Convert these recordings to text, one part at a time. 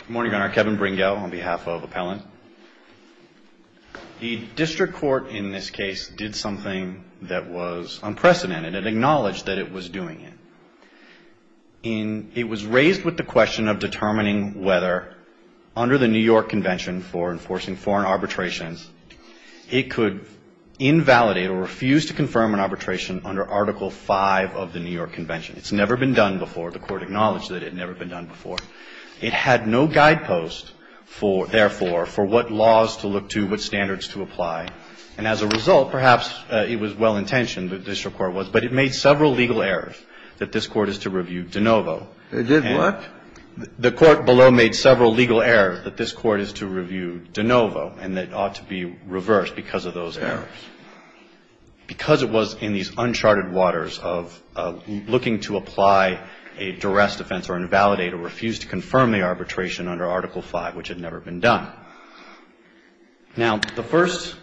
Good morning, Your Honor. Kevin Bringo on behalf of Appellant. The District Court in this case did something that was unprecedented. It acknowledged that it was doing it. It was raised with the question of determining whether, under the New York Convention for Enforcing Foreign Arbitrations, it could invalidate or refuse to confirm an arbitration under Article V of the New York Convention. It's never been done before. The Court acknowledged that it had never been done before. It had no guidepost, therefore, for what laws to look to, what standards to apply. And as a result, perhaps it was well-intentioned, the District Court was, but it made several legal errors that this Court is to review de novo. It did what? The Court below made several legal errors that this Court is to review de novo and that ought to be reversed because of those errors. Because it was in these uncharted waters of looking to apply a duress defense or invalidate or refuse to confirm the arbitration under Article V, which had never been done. Now, the first,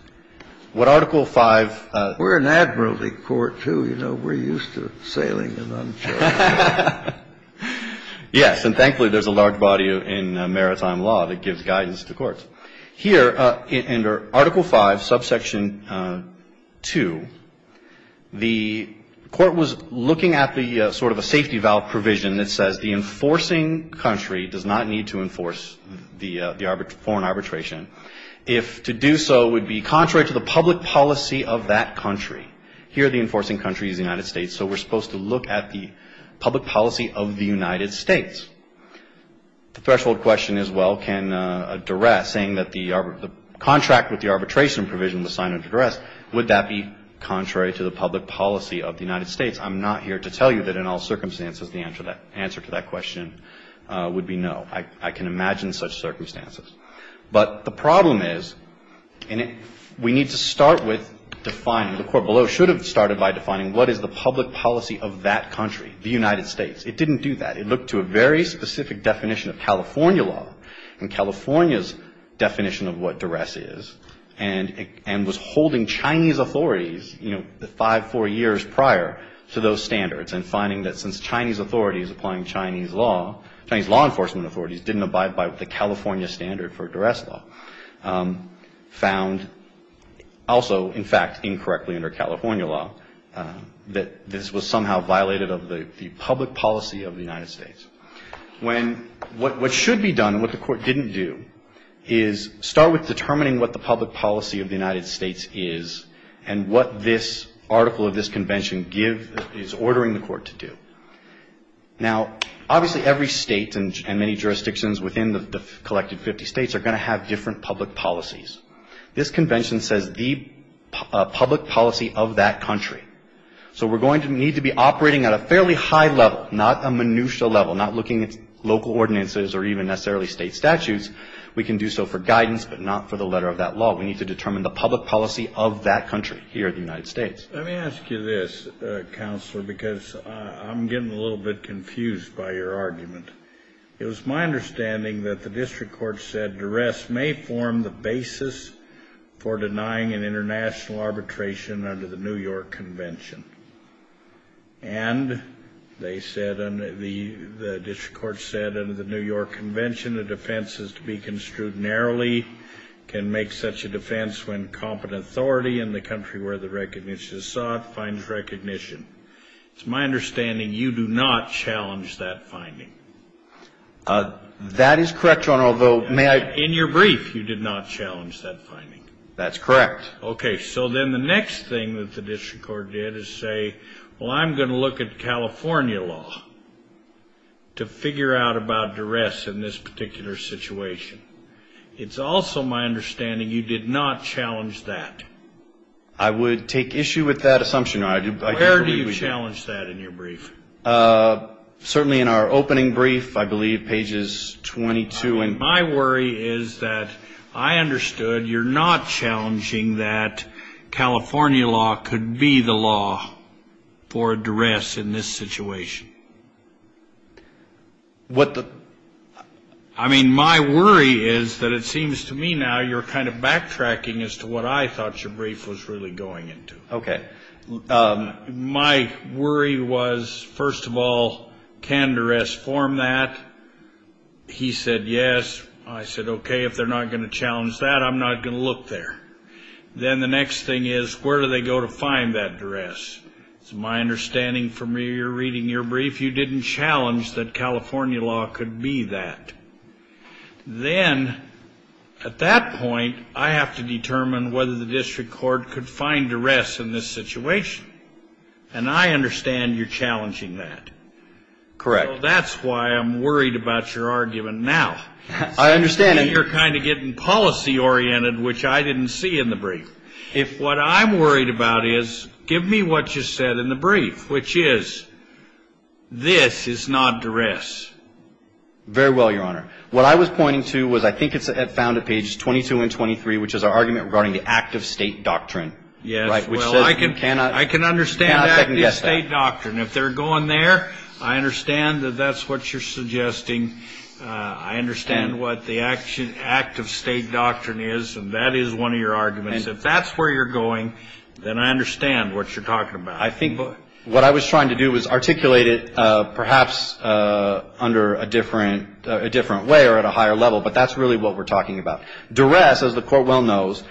what Article V... We're an admiralty court, too. You know, we're used to sailing in uncharted waters. Yes, and thankfully there's a large body in maritime law that gives guidance to courts. Here, under Article V, subsection 2, the Court was looking at the sort of a safety valve provision that says, the enforcing country does not need to enforce the foreign arbitration. If to do so would be contrary to the public policy of that country. Here, the enforcing country is the United States, so we're supposed to look at the public policy of the United States. The threshold question is, well, can a duress saying that the contract with the arbitration provision was signed under duress, would that be contrary to the public policy of the United States? I'm not here to tell you that in all circumstances the answer to that question would be no. I can imagine such circumstances. But the problem is, and we need to start with defining, the Court below should have started by defining, what is the public policy of that country, the United States? It didn't do that. It looked to a very specific definition of California law, and California's definition of what duress is, and was holding Chinese authorities, you know, five, four years prior to those standards, and finding that since Chinese authorities applying Chinese law, Chinese law enforcement authorities didn't abide by the California standard for duress law, found also, in fact, incorrectly under California law, that this was somehow violated of the public policy of the United States. What should be done, and what the Court didn't do, is start with determining what the public policy of the United States is, and what this article of this convention is ordering the Court to do. Now, obviously every state and many jurisdictions within the collected 50 states are going to have different public policies. This convention says the public policy of that country. So we're going to need to be operating at a fairly high level, not a minutia level, not looking at local ordinances or even necessarily state statutes. We can do so for guidance, but not for the letter of that law. We need to determine the public policy of that country here in the United States. Let me ask you this, Counselor, because I'm getting a little bit confused by your argument. It was my understanding that the district court said duress may form the basis for denying an international arbitration under the New York Convention. And they said, the district court said, under the New York Convention, a defense is to be construed narrowly, can make such a defense when competent authority in the country where the recognition is sought finds recognition. It's my understanding you do not challenge that finding. That is correct, Your Honor, although may I? In your brief, you did not challenge that finding. That's correct. Okay. So then the next thing that the district court did is say, well, I'm going to look at California law to figure out about duress in this particular situation. It's also my understanding you did not challenge that. I would take issue with that assumption. Where do you challenge that in your brief? Certainly in our opening brief, I believe, pages 22. My worry is that I understood you're not challenging that California law could be the law for duress in this situation. What the? I mean, my worry is that it seems to me now you're kind of backtracking as to what I thought your brief was really going into. Okay. My worry was, first of all, can duress form that? He said yes. I said, okay, if they're not going to challenge that, I'm not going to look there. Then the next thing is, where do they go to find that duress? It's my understanding from reading your brief, you didn't challenge that California law could be that. Then, at that point, I have to determine whether the district court could find duress in this situation. And I understand you're challenging that. Correct. So that's why I'm worried about your argument now. I understand. You're kind of getting policy-oriented, which I didn't see in the brief. If what I'm worried about is, give me what you said in the brief, which is, this is not duress. Very well, Your Honor. What I was pointing to was I think it's found at pages 22 and 23, which is our argument regarding the act of state doctrine. Yes. Well, I can understand the act of state doctrine. If they're going there, I understand that that's what you're suggesting. I understand what the act of state doctrine is, and that is one of your arguments. If that's where you're going, then I understand what you're talking about. I think what I was trying to do was articulate it perhaps under a different way or at a higher level, but that's really what we're talking about. Duress, as the Court well knows,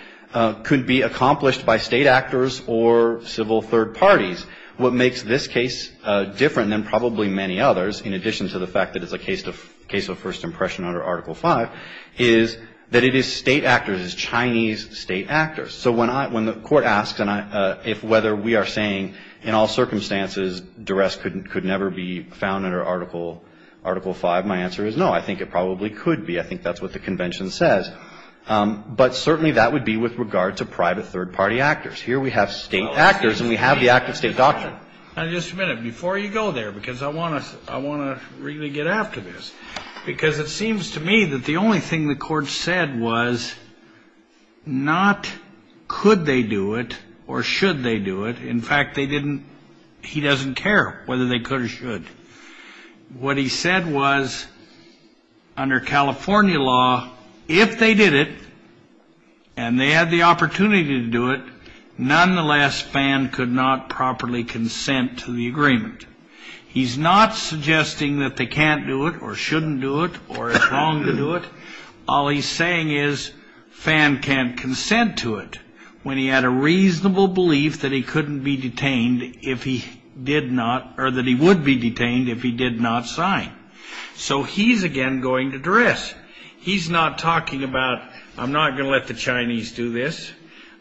could be accomplished by state actors or civil third parties. What makes this case different than probably many others, in addition to the fact that it's a case of first impression under Article 5, is that it is state actors. It is Chinese state actors. So when the Court asks if whether we are saying in all circumstances duress could never be found under Article 5, my answer is no. I think it probably could be. I think that's what the convention says. But certainly that would be with regard to private third-party actors. Here we have state actors, and we have the act of state doctrine. Now, just a minute. Before you go there, because I want to really get after this. Because it seems to me that the only thing the Court said was not could they do it or should they do it. In fact, they didn't. He doesn't care whether they could or should. What he said was under California law, if they did it and they had the opportunity to do it, nonetheless, Fan could not properly consent to the agreement. He's not suggesting that they can't do it or shouldn't do it or it's wrong to do it. All he's saying is Fan can't consent to it when he had a reasonable belief that he couldn't be detained if he did not or that he would be detained if he did not sign. So he's again going to duress. He's not talking about I'm not going to let the Chinese do this.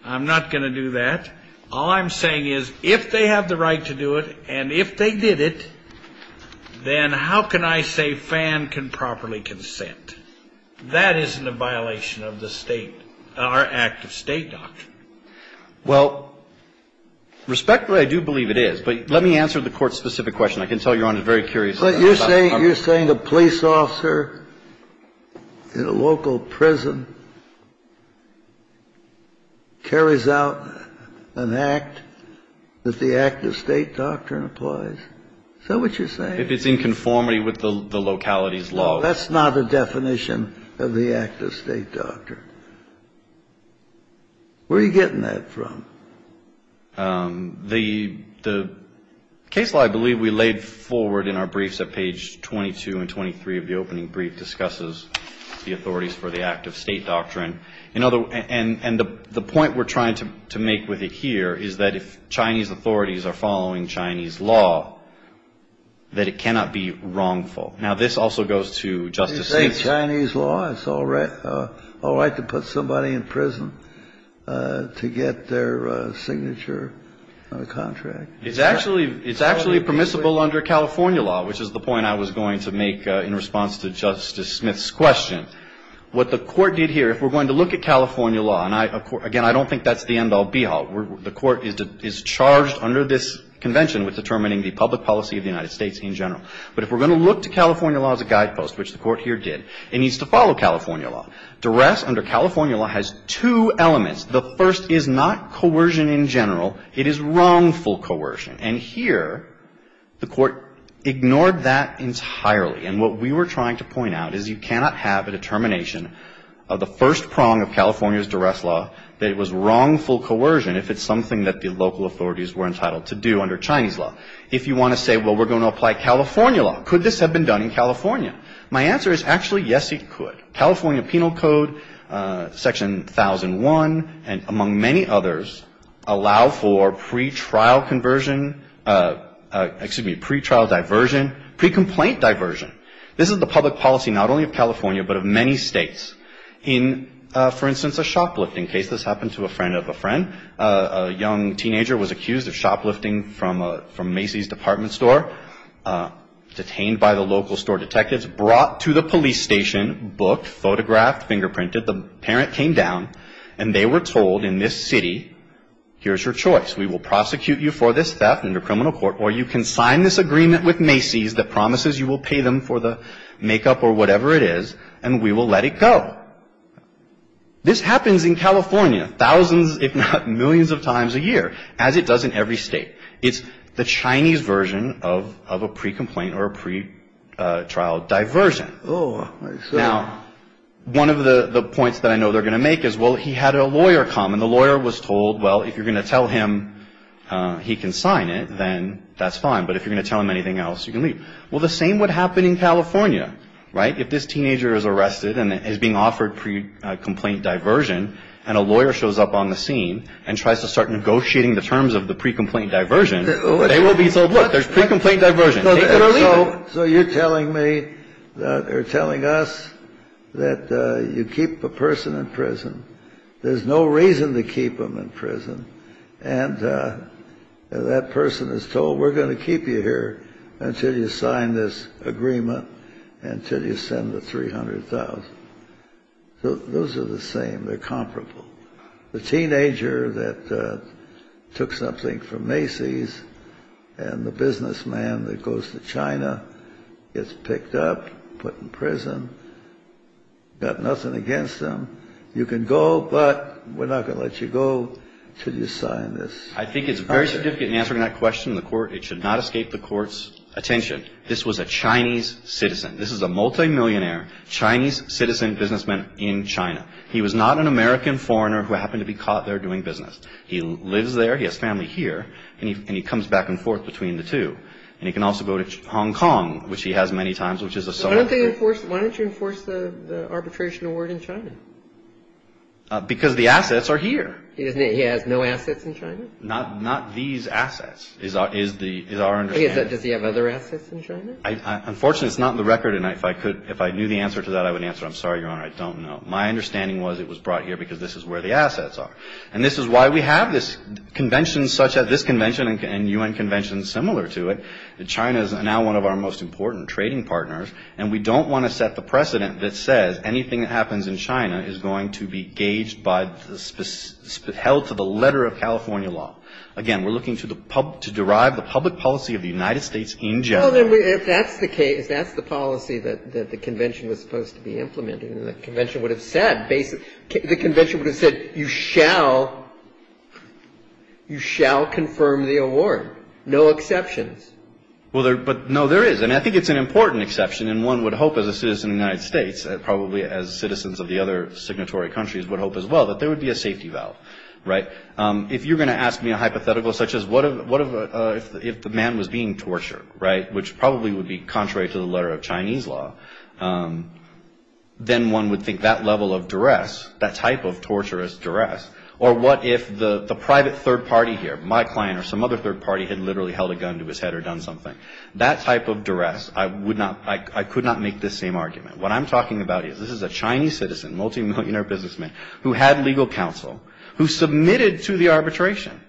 I'm not going to do that. All I'm saying is if they have the right to do it and if they did it, then how can I say Fan can properly consent? That isn't a violation of the state or act of state doctrine. Well, respectfully, I do believe it is. But let me answer the Court's specific question. I can tell Your Honor is very curious about it. You're saying the police officer in a local prison carries out an act that the act of state doctrine applies? Is that what you're saying? If it's in conformity with the locality's law. No, that's not a definition of the act of state doctrine. Where are you getting that from? The case law, I believe we laid forward in our briefs at page 22 and 23 of the opening brief, discusses the authorities for the act of state doctrine. And the point we're trying to make with it here is that if Chinese authorities are following Chinese law, that it cannot be wrongful. Now, this also goes to Justice Smith. It's all right to put somebody in prison to get their signature on a contract. It's actually permissible under California law, which is the point I was going to make in response to Justice Smith's question. What the Court did here, if we're going to look at California law, and again, I don't think that's the end all be all. The Court is charged under this convention with determining the public policy of the United States in general. But if we're going to look to California law as a guidepost, which the Court here did, it needs to follow California law. Duress under California law has two elements. The first is not coercion in general. It is wrongful coercion. And here the Court ignored that entirely. And what we were trying to point out is you cannot have a determination of the first prong of California's duress law that it was wrongful coercion if it's something that the local authorities were entitled to do under Chinese law. If you want to say, well, we're going to apply California law, could this have been done in California? My answer is actually, yes, it could. California Penal Code, Section 1001, among many others, allow for pretrial conversion, excuse me, pretrial diversion, pre-complaint diversion. This is the public policy not only of California but of many states. In, for instance, a shoplifting case, this happened to a friend of a friend. A young teenager was accused of shoplifting from Macy's department store. Detained by the local store detectives, brought to the police station, booked, photographed, fingerprinted. The parent came down and they were told in this city, here's your choice. We will prosecute you for this theft under criminal court or you can sign this agreement with Macy's that promises you will pay them for the makeup or whatever it is and we will let it go. This happens in California thousands if not millions of times a year as it does in every state. It's the Chinese version of a pre-complaint or a pretrial diversion. Now, one of the points that I know they're going to make is, well, he had a lawyer come and the lawyer was told, well, if you're going to tell him he can sign it, then that's fine. But if you're going to tell him anything else, you can leave. Well, the same would happen in California, right? If this teenager is arrested and is being offered pre-complaint diversion and a lawyer shows up on the scene and tries to start negotiating the terms of the pre-complaint diversion, they will be told, look, there's pre-complaint diversion. So you're telling me or telling us that you keep a person in prison. There's no reason to keep them in prison. And that person is told, we're going to keep you here until you sign this agreement, until you send the $300,000. Those are the same. They're comparable. The teenager that took something from Macy's and the businessman that goes to China gets picked up, put in prison, got nothing against them. You can go, but we're not going to let you go until you sign this. All right. I think it's very significant in answering that question in the Court. It should not escape the Court's attention. This was a Chinese citizen. This is a multimillionaire Chinese citizen businessman in China. He was not an American foreigner who happened to be caught there doing business. He lives there. He has family here. And he comes back and forth between the two. Why don't you enforce the arbitration award in China? Because the assets are here. He has no assets in China? Not these assets is our understanding. Does he have other assets in China? Unfortunately, it's not in the record. And if I knew the answer to that, I would answer, I'm sorry, Your Honor, I don't know. My understanding was it was brought here because this is where the assets are. And this is why we have this convention such as this convention and U.N. conventions similar to it. China is now one of our most important trading partners. And we don't want to set the precedent that says anything that happens in China is going to be gauged by the held to the letter of California law. Again, we're looking to derive the public policy of the United States in general. Well, if that's the case, that's the policy that the convention was supposed to be implementing. The convention would have said, you shall confirm the award. No exceptions. Well, but no, there is. And I think it's an important exception. And one would hope as a citizen of the United States, probably as citizens of the other signatory countries, would hope as well that there would be a safety valve. Right. If you're going to ask me a hypothetical such as what if the man was being tortured, right, which probably would be contrary to the letter of Chinese law, then one would think that level of duress, that type of torturous duress. Or what if the private third party here, my client or some other third party, had literally held a gun to his head or done something. That type of duress, I would not, I could not make this same argument. What I'm talking about is this is a Chinese citizen, multimillionaire businessman, who had legal counsel, who submitted to the arbitration.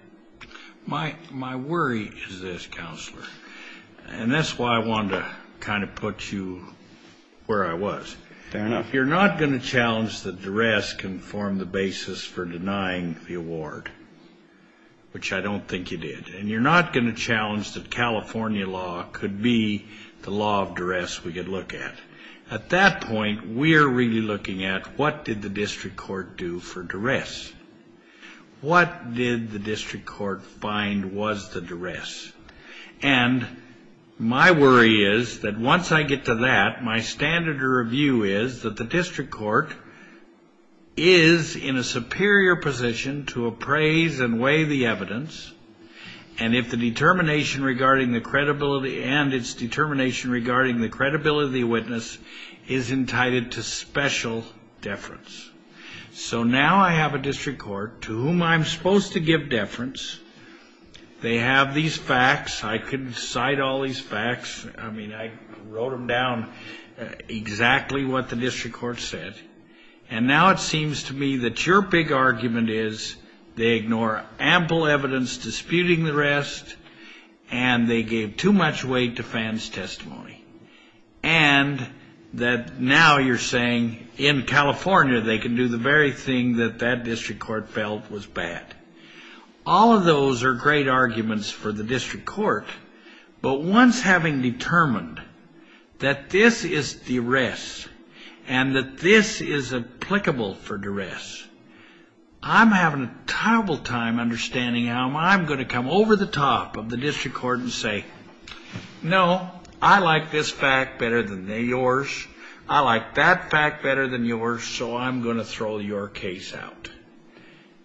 My worry is this, Counselor, and that's why I wanted to kind of put you where I was. Fair enough. You're not going to challenge that duress can form the basis for denying the award, which I don't think you did. And you're not going to challenge that California law could be the law of duress we could look at. At that point, we are really looking at what did the district court do for duress? And my worry is that once I get to that, my standard of review is that the district court is in a superior position to appraise and weigh the evidence, and if the determination regarding the credibility and its determination regarding the credibility of the witness is entitled to special deference. So now I have a district court to whom I'm supposed to give deference. They have these facts. I can cite all these facts. I mean, I wrote them down exactly what the district court said, and now it seems to me that your big argument is they ignore ample evidence disputing the rest, and they gave too much weight to Fan's testimony, and that now you're saying in California they can do the very thing that that district court felt was bad. All of those are great arguments for the district court, but once having determined that this is duress and that this is applicable for duress, I'm having a terrible time understanding how I'm going to come over the top of the district court and say, no, I like this fact better than yours. I like that fact better than yours, so I'm going to throw your case out.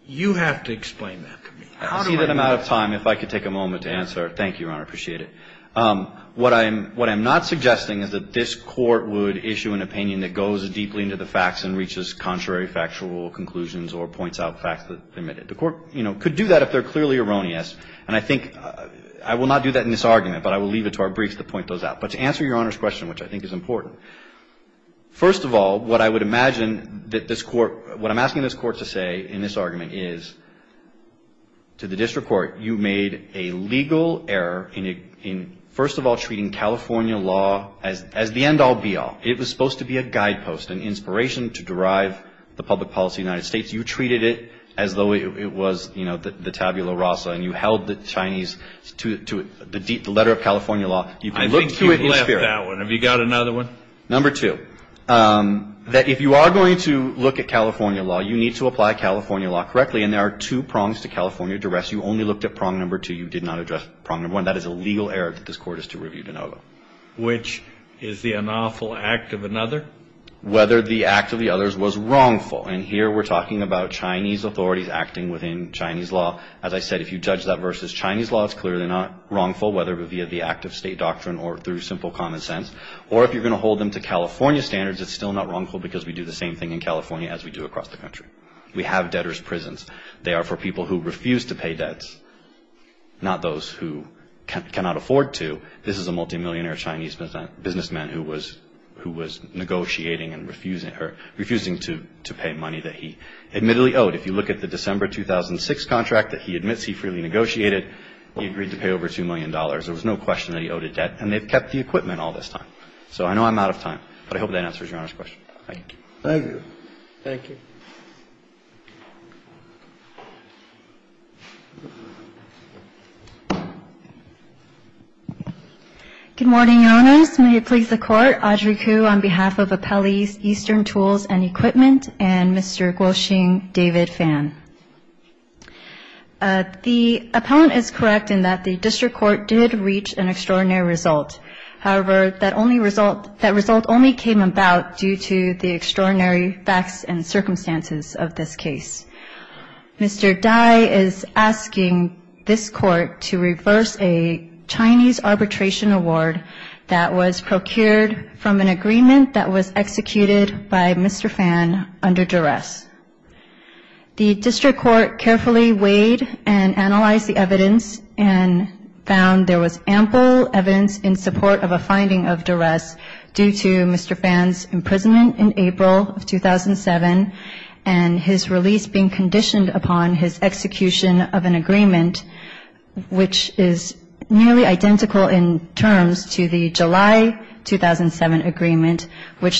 You have to explain that to me. How do I know? I see that I'm out of time. If I could take a moment to answer. Thank you, Your Honor. I appreciate it. What I'm not suggesting is that this Court would issue an opinion that goes deeply into the facts and reaches contrary factual conclusions or points out facts that are omitted. The Court, you know, could do that if they're clearly erroneous, and I think I will not do that in this argument, but I will leave it to our briefs to point those out. But to answer Your Honor's question, which I think is important, first of all, what I would imagine that this Court, what I'm asking this Court to say in this argument is, to the district court, you made a legal error in, first of all, treating California law as the end-all, be-all. It was supposed to be a guidepost, an inspiration to derive the public policy of the United States. You treated it as though it was, you know, the tabula rasa, and you held the Chinese to the letter of California law. I think you've left that one. Have you got another one? Number two, that if you are going to look at California law, you need to apply California law correctly, and there are two prongs to California duress. You only looked at prong number two. You did not address prong number one. That is a legal error that this Court is to review de novo. Which is the unlawful act of another? Whether the act of the others was wrongful. And here we're talking about Chinese authorities acting within Chinese law. As I said, if you judge that versus Chinese law, it's clearly not wrongful, whether via the act of state doctrine or through simple common sense. Or if you're going to hold them to California standards, it's still not wrongful because we do the same thing in California as we do across the country. We have debtor's prisons. They are for people who refuse to pay debts, not those who cannot afford to. This is a multimillionaire Chinese businessman who was negotiating and refusing to pay money that he admittedly owed. If you look at the December 2006 contract that he admits he freely negotiated, he agreed to pay over $2 million. There was no question that he owed a debt. And they've kept the equipment all this time. So I know I'm out of time. But I hope that answers Your Honor's question. Thank you. Thank you. Thank you. Good morning, Your Honors. May it please the Court. Audrey Koo on behalf of Appellees Eastern Tools and Equipment and Mr. Guo-Shing David Phan. The appellant is correct in that the district court did reach an extraordinary result. However, that result only came about due to the extraordinary facts and circumstances of this case. Mr. Dai is asking this court to reverse a Chinese arbitration award that was procured from an agreement that was executed by Mr. Phan under duress. The district court carefully weighed and analyzed the evidence and found there was ample evidence in support of a finding of duress due to Mr. Phan's imprisonment in April of 2007 and his release being conditioned upon his execution of an agreement which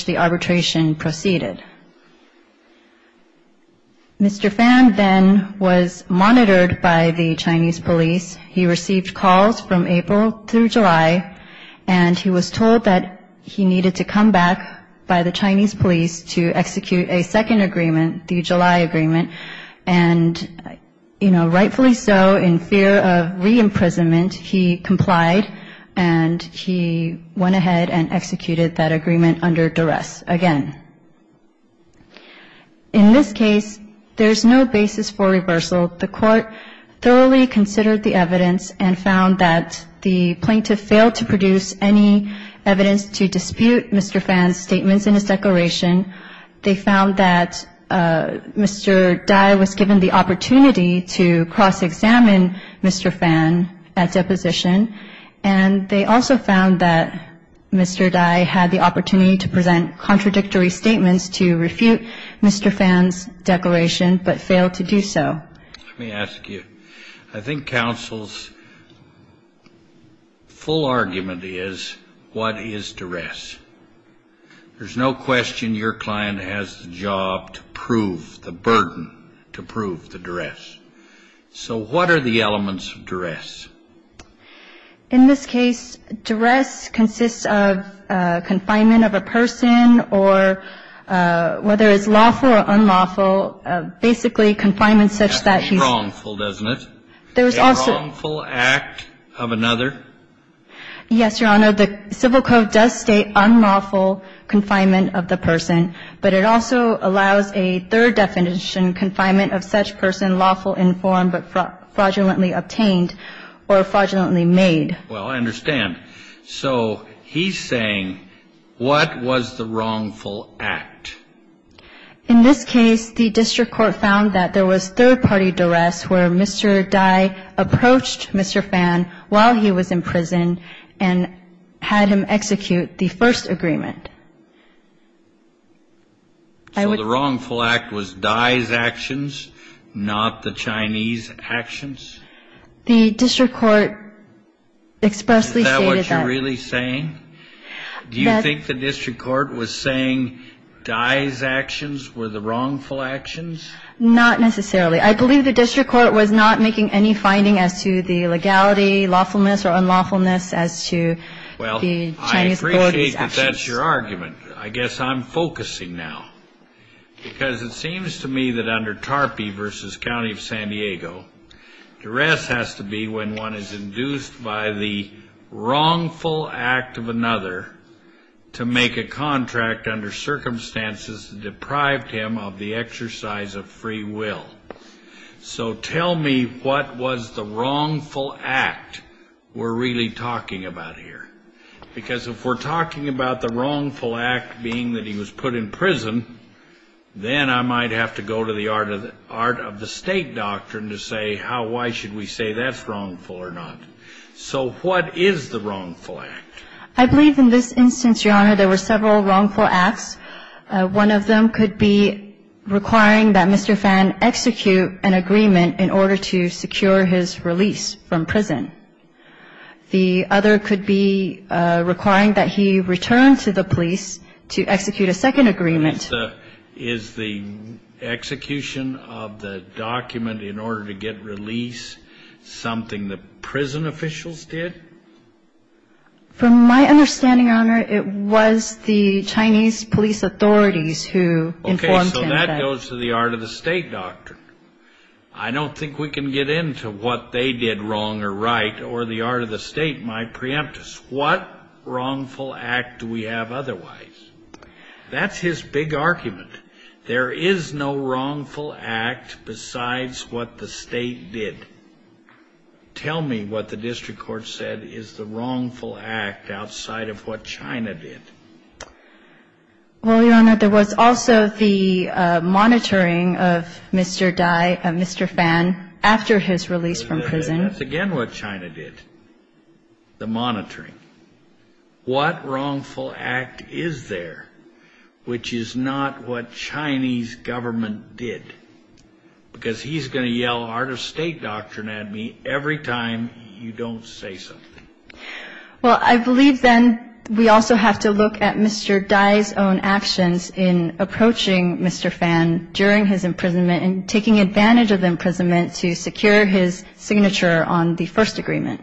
the arbitration proceeded. Mr. Phan then was monitored by the Chinese police. He received calls from April through July. And he was told that he needed to come back by the Chinese police to execute a second agreement, the July agreement. And rightfully so, in fear of re-imprisonment, he complied and he went ahead and executed that agreement under duress again. In this case, there's no basis for reversal. The court thoroughly considered the evidence and found that the plaintiff failed to produce any evidence to dispute Mr. Phan's statements in his declaration. They found that Mr. Dai was given the opportunity to cross-examine Mr. Phan at deposition. And they also found that Mr. Dai had the opportunity to present contradictory statements to refute Mr. Phan's declaration, but failed to do so. Let me ask you. I think counsel's full argument is what is duress? There's no question your client has the job to prove the burden, to prove the duress. So what are the elements of duress? In this case, duress consists of confinement of a person or whether it's lawful or unlawful, basically confinement such that he's ---- That's wrongful, doesn't it? There's also ---- A wrongful act of another? Yes, Your Honor. So the civil code does state unlawful confinement of the person, but it also allows a third definition, confinement of such person lawful in form but fraudulently obtained or fraudulently made. Well, I understand. So he's saying what was the wrongful act? In this case, the district court found that there was third-party duress where Mr. Dai approached Mr. Phan while he was in prison and had him execute the first agreement. So the wrongful act was Dai's actions, not the Chinese actions? The district court expressly stated that. Is that what you're really saying? Do you think the district court was saying Dai's actions were the wrongful actions? Not necessarily. I believe the district court was not making any finding as to the legality, lawfulness or unlawfulness as to the Chinese authorities' actions. Well, I appreciate that that's your argument. I guess I'm focusing now, because it seems to me that under Tarpey v. County of San Diego, duress has to be when one is induced by the wrongful act of another to make a contract under circumstances that deprived him of the exercise of free will. So tell me what was the wrongful act we're really talking about here? Because if we're talking about the wrongful act being that he was put in prison, then I might have to go to the art of the state doctrine to say why should we say that's wrongful or not. So what is the wrongful act? I believe in this instance, Your Honor, there were several wrongful acts. One of them could be requiring that Mr. Fan execute an agreement in order to secure his release from prison. The other could be requiring that he return to the police to execute a second agreement. Is the execution of the document in order to get release something that prison officials did? From my understanding, Your Honor, it was the Chinese police authorities who informed him that. Okay, so that goes to the art of the state doctrine. I don't think we can get into what they did wrong or right, or the art of the state might preempt us. What wrongful act do we have otherwise? That's his big argument. There is no wrongful act besides what the state did. Tell me what the district court said is the wrongful act outside of what China did. Well, Your Honor, there was also the monitoring of Mr. Fan after his release from prison. That's again what China did, the monitoring. What wrongful act is there which is not what Chinese government did? Because he's going to yell art of state doctrine at me every time you don't say something. Well, I believe then we also have to look at Mr. Dai's own actions in approaching Mr. Fan during his imprisonment and taking advantage of imprisonment to secure his signature on the first agreement.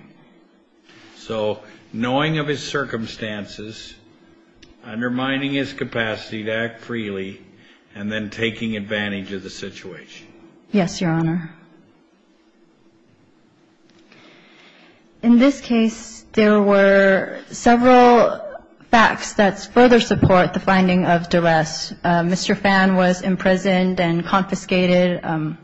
So knowing of his circumstances, undermining his capacity to act freely, and then taking advantage of the situation. Yes, Your Honor. In this case, there were several facts that further support the finding of duress. Mr. Fan was imprisoned and confiscated,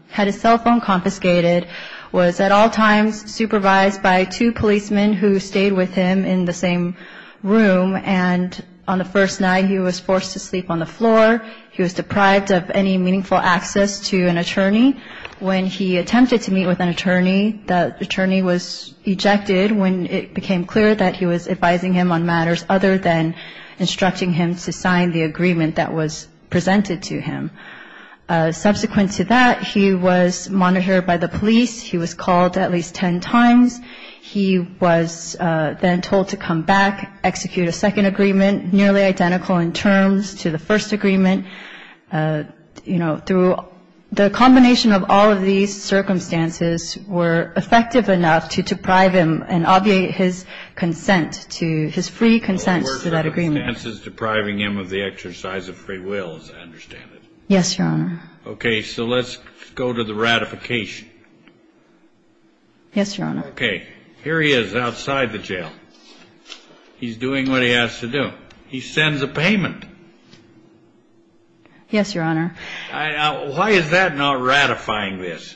had his cell phone confiscated, was at all times supervised by two policemen who stayed with him in the same room. And on the first night, he was forced to sleep on the floor. He was deprived of any meaningful access to an attorney. When he attempted to meet with an attorney, the attorney was ejected when it became clear that he was advising him on matters other than instructing him to sign the agreement that was presented to him. Subsequent to that, he was monitored by the police. He was called at least 10 times. He was then told to come back, execute a second agreement, nearly identical in terms to the first agreement. You know, through the combination of all of these circumstances were effective enough to deprive him and obviate his consent to his free consent to that agreement. I understand the circumstances depriving him of the exercise of free will, as I understand it. Yes, Your Honor. Okay, so let's go to the ratification. Yes, Your Honor. Okay. Here he is outside the jail. He's doing what he has to do. He sends a payment. Yes, Your Honor. Why is that not ratifying this?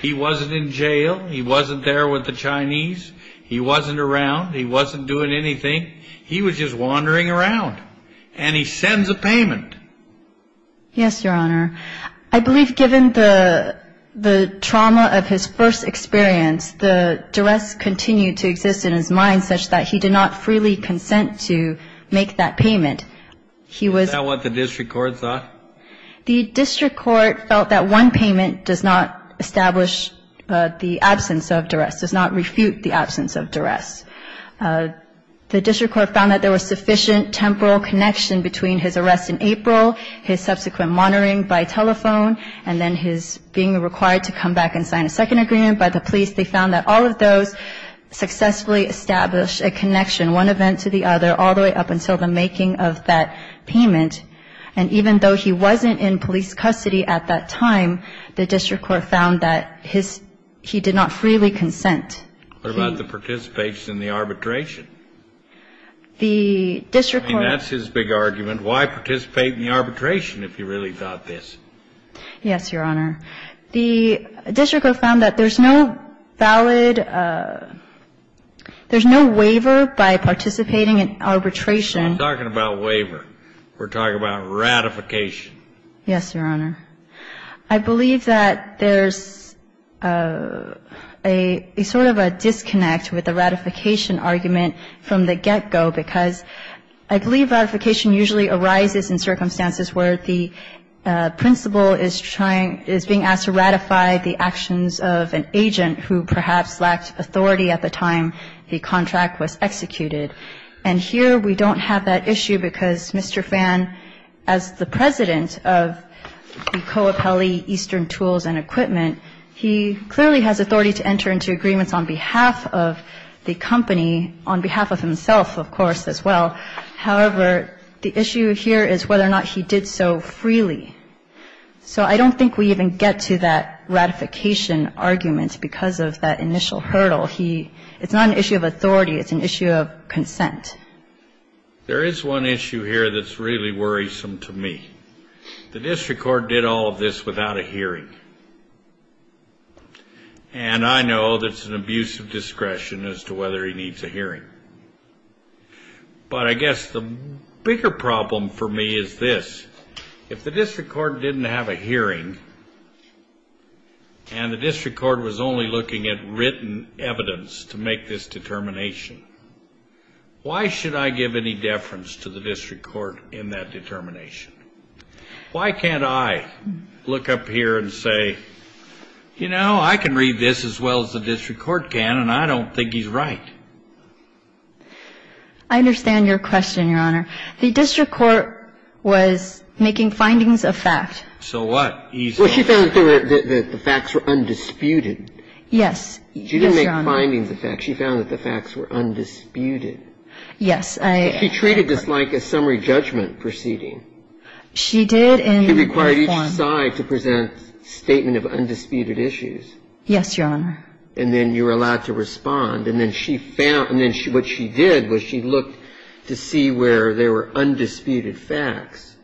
He wasn't in jail. He wasn't there with the Chinese. He wasn't around. He wasn't doing anything. He was just wandering around. And he sends a payment. Yes, Your Honor. I believe given the trauma of his first experience, the duress continued to exist in his mind such that he did not freely consent to make that payment. Is that what the district court thought? The district court felt that one payment does not establish the absence of duress, does not refute the absence of duress. The district court found that there was sufficient temporal connection between his arrest in April, his subsequent monitoring by telephone, and then his being required to come back and sign a second agreement by the police. They found that all of those successfully established a connection, one event to the other, all the way up until the making of that payment. And even though he wasn't in police custody at that time, the district court found that he did not freely consent. What about the participation in the arbitration? The district court ---- I mean, that's his big argument. Why participate in the arbitration if you really thought this? Yes, Your Honor. The district court found that there's no valid ---- there's no waiver by participating in arbitration. We're not talking about waiver. We're talking about ratification. Yes, Your Honor. I believe that there's a sort of a disconnect with the ratification argument from the get-go, because I believe ratification usually arises in circumstances where the principal is trying to ---- is being asked to ratify the actions of an agent who perhaps lacked authority at the time the contract was executed. And here we don't have that issue because Mr. Phan, as the president of the Coapelli Eastern Tools and Equipment, he clearly has authority to enter into agreements on behalf of the company, on behalf of himself, of course, as well. However, the issue here is whether or not he did so freely. So I don't think we even get to that ratification argument because of that initial hurdle. He ---- it's not an issue of authority. It's an issue of consent. There is one issue here that's really worrisome to me. The district court did all of this without a hearing. And I know that's an abuse of discretion as to whether he needs a hearing. But I guess the bigger problem for me is this. If the district court didn't have a hearing and the district court was only looking at written evidence to make this determination, why should I give any deference to the district court in that determination? Why can't I look up here and say, you know, I can read this as well as the district court can and I don't think he's right? I understand your question, Your Honor. The district court was making findings of fact. So what? Well, she found that the facts were undisputed. Yes. Yes, Your Honor. She didn't make findings of fact. She found that the facts were undisputed. Yes. She treated this like a summary judgment proceeding. She did in that form. She required each side to present a statement of undisputed issues. Yes, Your Honor. And then you were allowed to respond. And then she found ---- and then what she did was she looked to see where there were undisputed facts.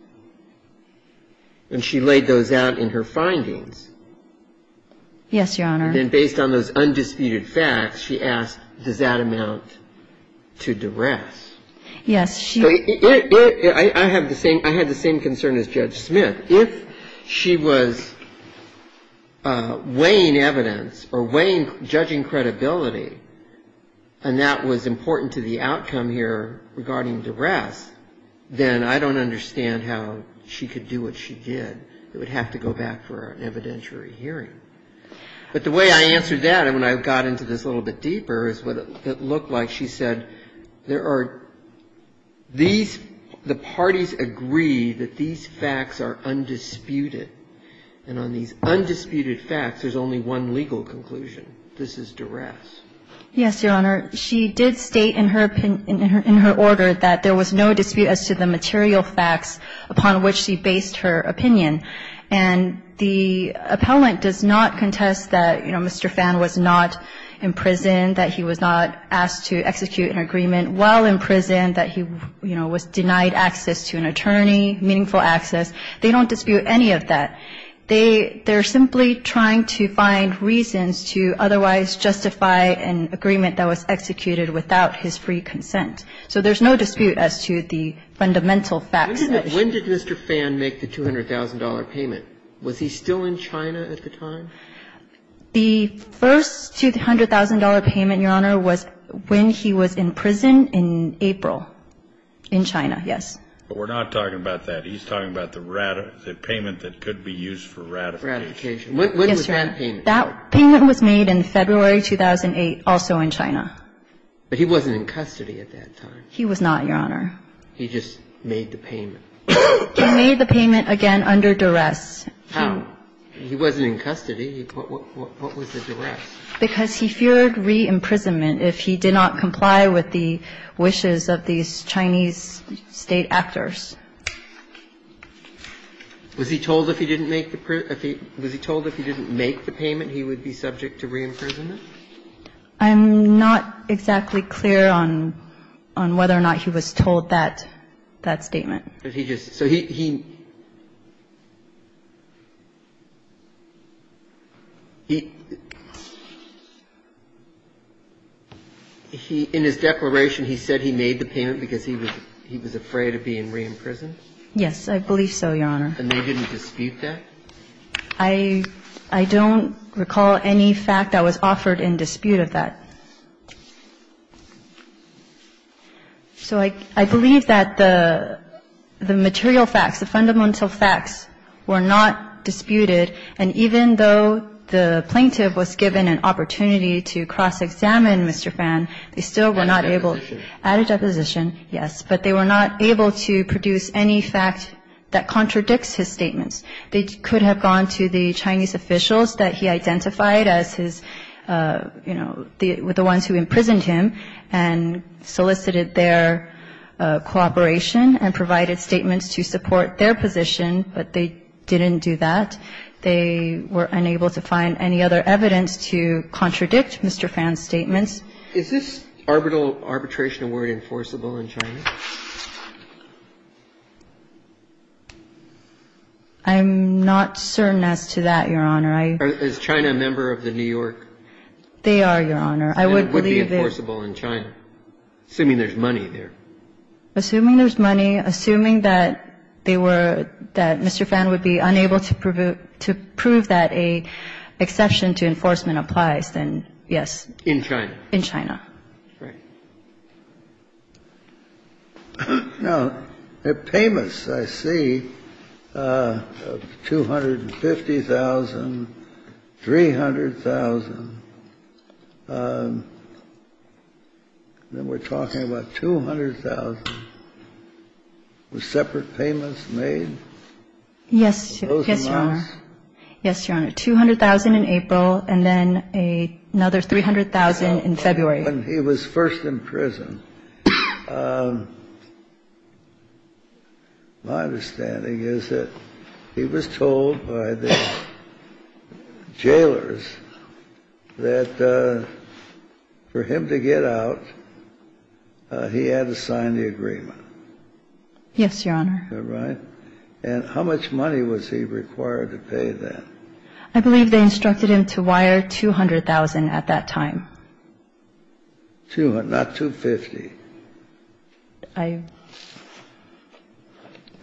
And she laid those out in her findings. Yes, Your Honor. And then based on those undisputed facts, she asked, does that amount to duress? Yes, she ---- I had the same concern as Judge Smith. If she was weighing evidence or weighing, judging credibility, and that was important to the outcome here regarding duress, then I don't understand how she could do what she did. It would have to go back for an evidentiary hearing. But the way I answered that, and when I got into this a little bit deeper, is what it looked like. She said there are ---- these ---- the parties agree that these facts are undisputed. And on these undisputed facts, there's only one legal conclusion. This is duress. Yes, Your Honor. She did state in her opinion ---- in her order that there was no dispute as to the material facts upon which she based her opinion. And the appellant does not contest that, you know, Mr. Phan was not in prison, that he was not asked to execute an agreement while in prison, that he, you know, was denied access to an attorney, meaningful access. They don't dispute any of that. They are simply trying to find reasons to otherwise justify an agreement that was executed without his free consent. So there's no dispute as to the fundamental facts. When did Mr. Phan make the $200,000 payment? Was he still in China at the time? The first $200,000 payment, Your Honor, was when he was in prison in April, in China, yes. But we're not talking about that. He's talking about the payment that could be used for ratification. When was that payment? That payment was made in February 2008, also in China. But he wasn't in custody at that time. He was not, Your Honor. He just made the payment. He made the payment, again, under duress. How? He wasn't in custody. What was the duress? Because he feared re-imprisonment if he did not comply with the wishes of these Chinese State actors. Was he told if he didn't make the payment he would be subject to re-imprisonment? I'm not exactly clear on whether or not he was told that statement. But he just – so he – in his declaration, he said he made the payment because he was afraid of being re-imprisoned? Yes, I believe so, Your Honor. And they didn't dispute that? I don't recall any fact that was offered in dispute of that. So I believe that the material facts, the fundamental facts were not disputed. And even though the plaintiff was given an opportunity to cross-examine Mr. Fan, they still were not able – At a deposition. At a deposition, yes. But they were not able to produce any fact that contradicts his statements. They could have gone to the Chinese officials that he identified as his – you know, the ones who imprisoned him and solicited their cooperation and provided statements to support their position, but they didn't do that. They were unable to find any other evidence to contradict Mr. Fan's statements. Is this arbitral arbitration award enforceable in China? I'm not certain as to that, Your Honor. Is China a member of the New York? They are, Your Honor. I would believe that – And it would be enforceable in China, assuming there's money there. Assuming there's money, assuming that they were – that Mr. Fan would be unable to prove that an exception to enforcement applies, then yes. In China. In China. Right. Now, the payments, I see, of $250,000, $300,000. Then we're talking about $200,000. Were separate payments made? Yes, Your Honor. Yes, Your Honor. Yes, Your Honor. $200,000 in April and then another $300,000 in February. When he was first in prison, my understanding is that he was told by the jailers that for him to get out, he had to sign the agreement. Yes, Your Honor. And how much money was he required to pay then? I believe they instructed him to wire $200,000 at that time. Not $250,000.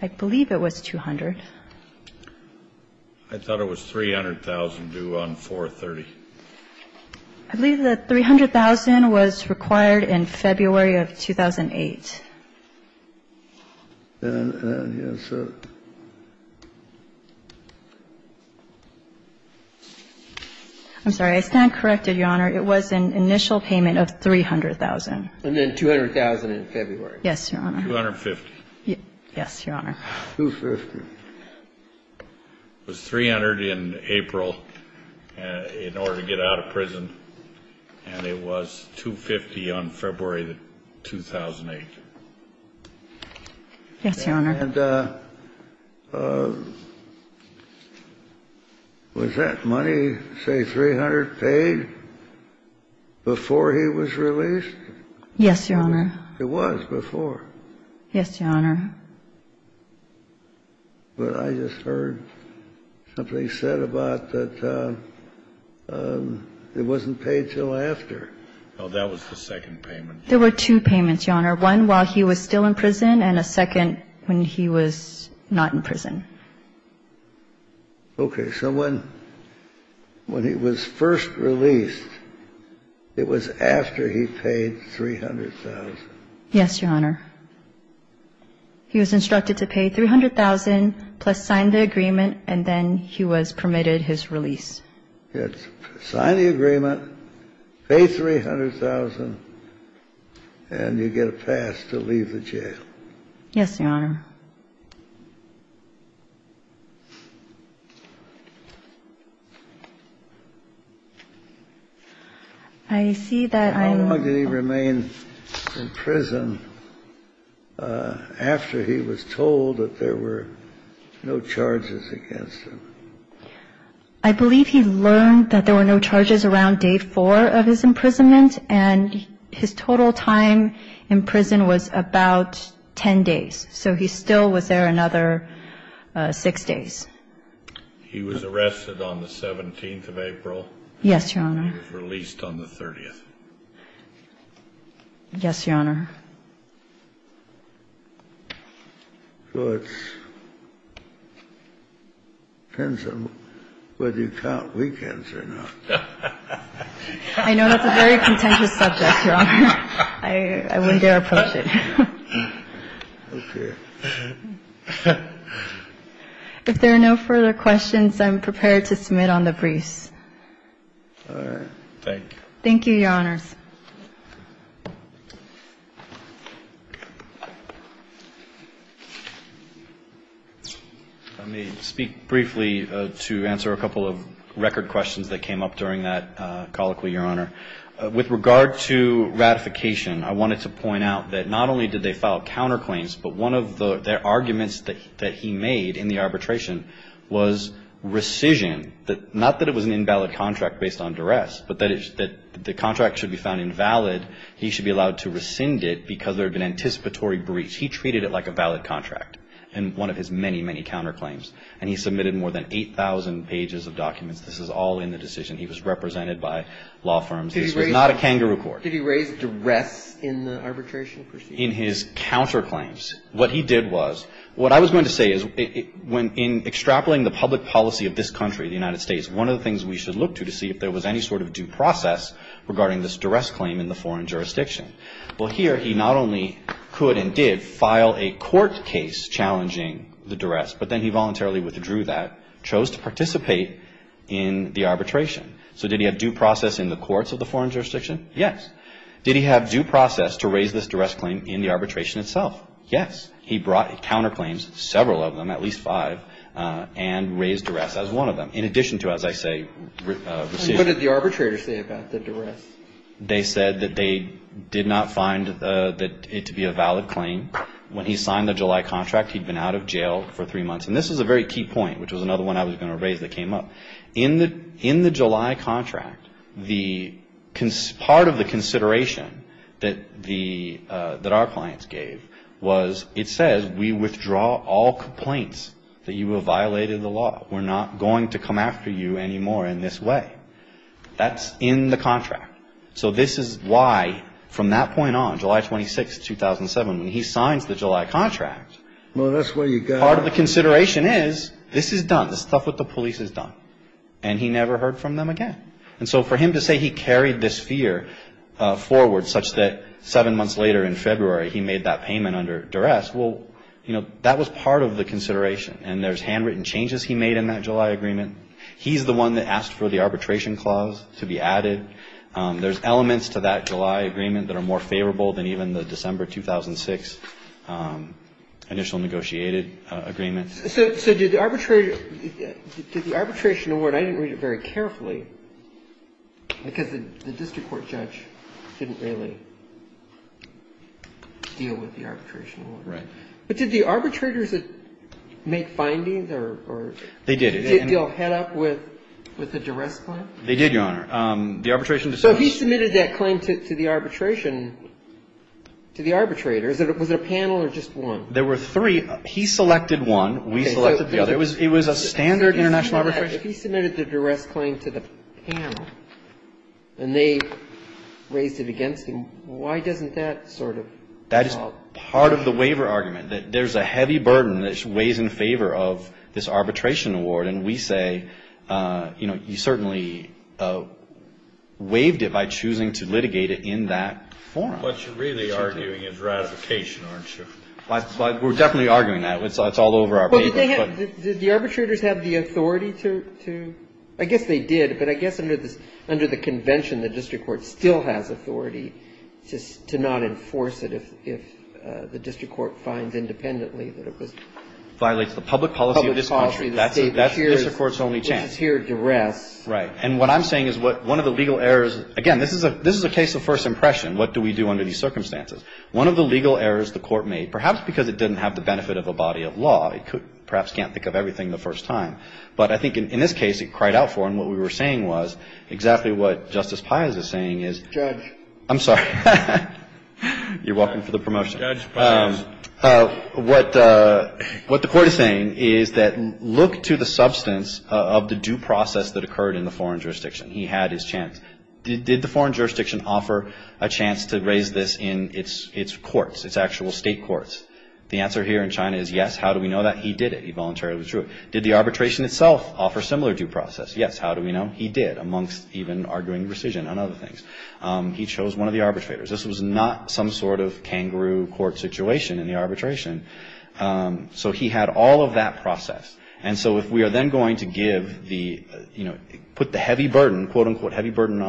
I believe it was $200,000. I thought it was $300,000 due on 4-30. I believe the $300,000 was required in February of 2008. I'm sorry, I stand corrected, Your Honor. It was an initial payment of $300,000. And then $200,000 in February. Yes, Your Honor. $250,000. Yes, Your Honor. $250,000. And it was $250,000 on February 2008. Yes, Your Honor. And was that money, say, $300,000 paid before he was released? Yes, Your Honor. It was before. Yes, Your Honor. But I just heard something said about that it wasn't paid until after. No, that was the second payment. There were two payments, Your Honor. One while he was still in prison and a second when he was not in prison. Okay. So when he was first released, it was after he paid $300,000. Yes, Your Honor. He was instructed to pay $300,000, plus sign the agreement, and then he was permitted his release. Sign the agreement, pay $300,000, and you get a pass to leave the jail. Yes, Your Honor. I see that I'm ---- Did he remain in prison after he was told that there were no charges against him? I believe he learned that there were no charges around day four of his imprisonment, and his total time in prison was about 10 days. So he still was there another six days. He was arrested on the 17th of April. Yes, Your Honor. He was released on the 30th. Yes, Your Honor. So it depends on whether you count weekends or not. I know that's a very contentious subject, Your Honor. I wouldn't dare approach it. Okay. If there are no further questions, I'm prepared to submit on the briefs. Thank you. Thank you, Your Honors. Let me speak briefly to answer a couple of record questions that came up during that colloquy, Your Honor. With regard to ratification, I wanted to point out that not only did they file counterclaims, but one of the arguments that he made in the arbitration was rescission, that not that it was an invalid contract based on duress, but that the contract should be found invalid, he should be allowed to rescind it because there had been anticipatory breach. He treated it like a valid contract in one of his many, many counterclaims, and he submitted more than 8,000 pages of documents. This is all in the decision. He was represented by law firms. This was not a kangaroo court. Did he raise duress in the arbitration proceedings? In his counterclaims, what he did was what I was going to say is when in extrapolating the public policy of this country, the United States, one of the things we should look to to see if there was any sort of due process regarding this duress claim in the foreign jurisdiction. Well, here he not only could and did file a court case challenging the duress, but then he voluntarily withdrew that, chose to participate in the arbitration. So did he have due process in the courts of the foreign jurisdiction? Yes. Did he have due process to raise this duress claim in the arbitration itself? Yes. He brought counterclaims, several of them, at least five, and raised duress as one of them. In addition to, as I say, receipt. What did the arbitrator say about the duress? They said that they did not find that it to be a valid claim. When he signed the July contract, he'd been out of jail for three months. And this was a very key point, which was another one I was going to raise that came up. In the July contract, part of the consideration that our clients gave was it says we withdraw all complaints that you have violated the law. We're not going to come after you anymore in this way. That's in the contract. So this is why, from that point on, July 26, 2007, when he signs the July contract, part of the consideration is this is done. This stuff with the police is done. And he never heard from them again. And so for him to say he carried this fear forward such that seven months later in February he made that payment under duress, well, you know, that was part of the consideration. And there's handwritten changes he made in that July agreement. He's the one that asked for the arbitration clause to be added. There's elements to that July agreement that are more favorable than even the December 2006 initial negotiated agreement. So did the arbitrator – did the arbitration award – I didn't read it very carefully because the district court judge didn't really deal with the arbitration award. Right. But did the arbitrators make findings or – They did. Did they deal head-up with the duress claim? They did, Your Honor. The arbitration – So he submitted that claim to the arbitration – to the arbitrators. Was it a panel or just one? There were three. He selected one. We selected the other. It was a standard international arbitration. If he submitted the duress claim to the panel and they raised it against him, why doesn't that sort of result? That is part of the waiver argument, that there's a heavy burden that weighs in favor of this arbitration award. And we say, you know, you certainly waived it by choosing to litigate it in that forum. What you're really arguing is ratification, aren't you? Well, we're definitely arguing that. It's all over our papers, but – Well, did they have – did the arbitrators have the authority to – I guess they did, but I guess under the convention, the district court still has authority to not enforce it if the district court finds independently that it was – Violates the public policy of this country. Public policy. That's the district court's only chance. Which is here, duress. Right. And what I'm saying is one of the legal errors – again, this is a case of first impression. What do we do under these circumstances? One of the legal errors the court made, perhaps because it didn't have the benefit of a body of law. It perhaps can't think of everything the first time. But I think in this case, it cried out for, and what we were saying was exactly what Justice Pius is saying is – Judge. I'm sorry. You're welcome for the promotion. Judge Pius. What the court is saying is that look to the substance of the due process that occurred in the foreign jurisdiction. He had his chance. Did the foreign jurisdiction offer a chance to raise this in its courts, its actual state courts? The answer here in China is yes. How do we know that? He did it. He voluntarily withdrew it. Did the arbitration itself offer a similar due process? Yes. How do we know? He did amongst even arguing rescission on other things. He chose one of the arbitrators. This was not some sort of kangaroo court situation in the arbitration. So he had all of that process. And so if we are then going to give the, you know, put the heavy burden, quote-unquote heavy burden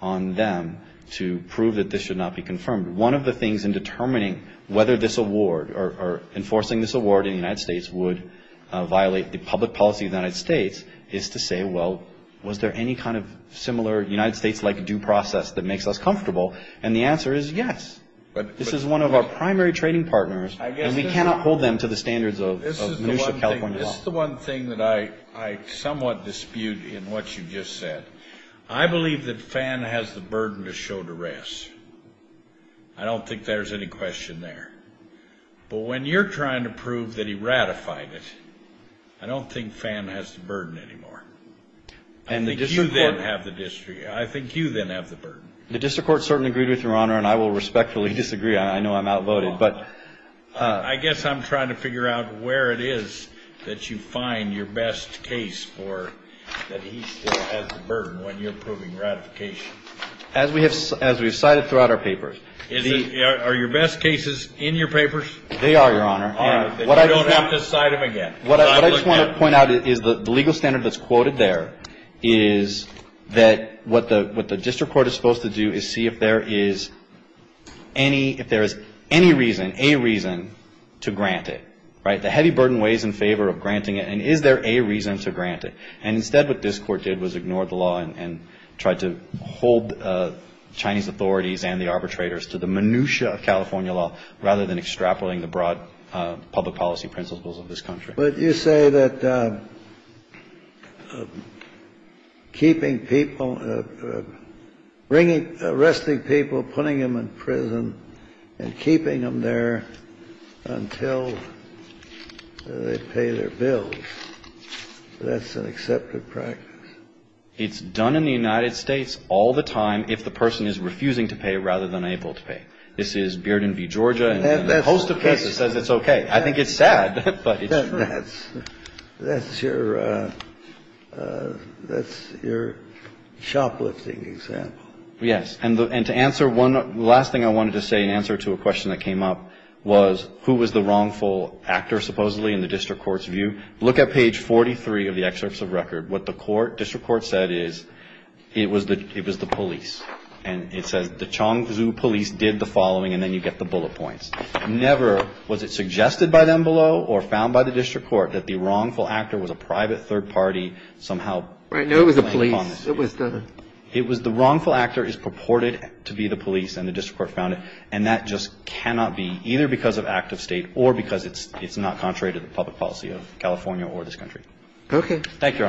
on them to prove that this should not be confirmed, one of the things in determining whether this award or enforcing this award in the United States would violate the public policy of the United States is to say, well, was there any kind of similar United States-like due process that makes us comfortable? And the answer is yes. This is one of our primary trading partners. And we cannot hold them to the standards of minutiae California law. This is the one thing that I somewhat dispute in what you just said. I believe that Fan has the burden to show duress. I don't think there's any question there. But when you're trying to prove that he ratified it, I don't think Fan has the burden anymore. I think you then have the district. I think you then have the burden. The district court certainly agreed with Your Honor, and I will respectfully disagree. I know I'm outvoted. I guess I'm trying to figure out where it is that you find your best case for that he still has the burden when you're proving ratification. As we have cited throughout our papers. Are your best cases in your papers? They are, Your Honor. You don't have to cite them again. What I just want to point out is the legal standard that's quoted there is that what the district court is supposed to do is see if there is any reason, a reason, to grant it, right? The heavy burden weighs in favor of granting it. And is there a reason to grant it? And instead what this Court did was ignore the law and tried to hold Chinese authorities and the arbitrators to the minutiae of California law rather than extrapolating the broad public policy principles of this country. But you say that keeping people, bringing, arresting people, putting them in prison, and keeping them there until they pay their bills. That's an accepted practice. It's done in the United States all the time if the person is refusing to pay rather than able to pay. This is Bearden v. Georgia and a host of cases says it's okay. I think it's sad, but it's true. That's your shoplifting example. Yes. And to answer one last thing I wanted to say in answer to a question that came up was who was the wrongful actor, supposedly, in the district court's view. Look at page 43 of the excerpts of record. What the court, district court said is it was the police. And it says the Chongzhu police did the following, and then you get the bullet points. Never was it suggested by them below or found by the district court that the wrongful actor was a private third party somehow. No, it was the police. It was the wrongful actor is purported to be the police and the district court found it. And that just cannot be either because of active state or because it's not contrary to the public policy of California or this country. Okay. Thank you, Your Honor.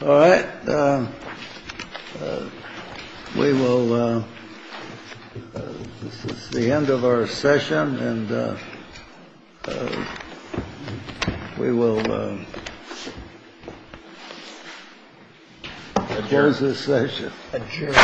All right. We will. This is the end of our session, and we will adjourn this session. Adjourn. All rise. Session's adjourned.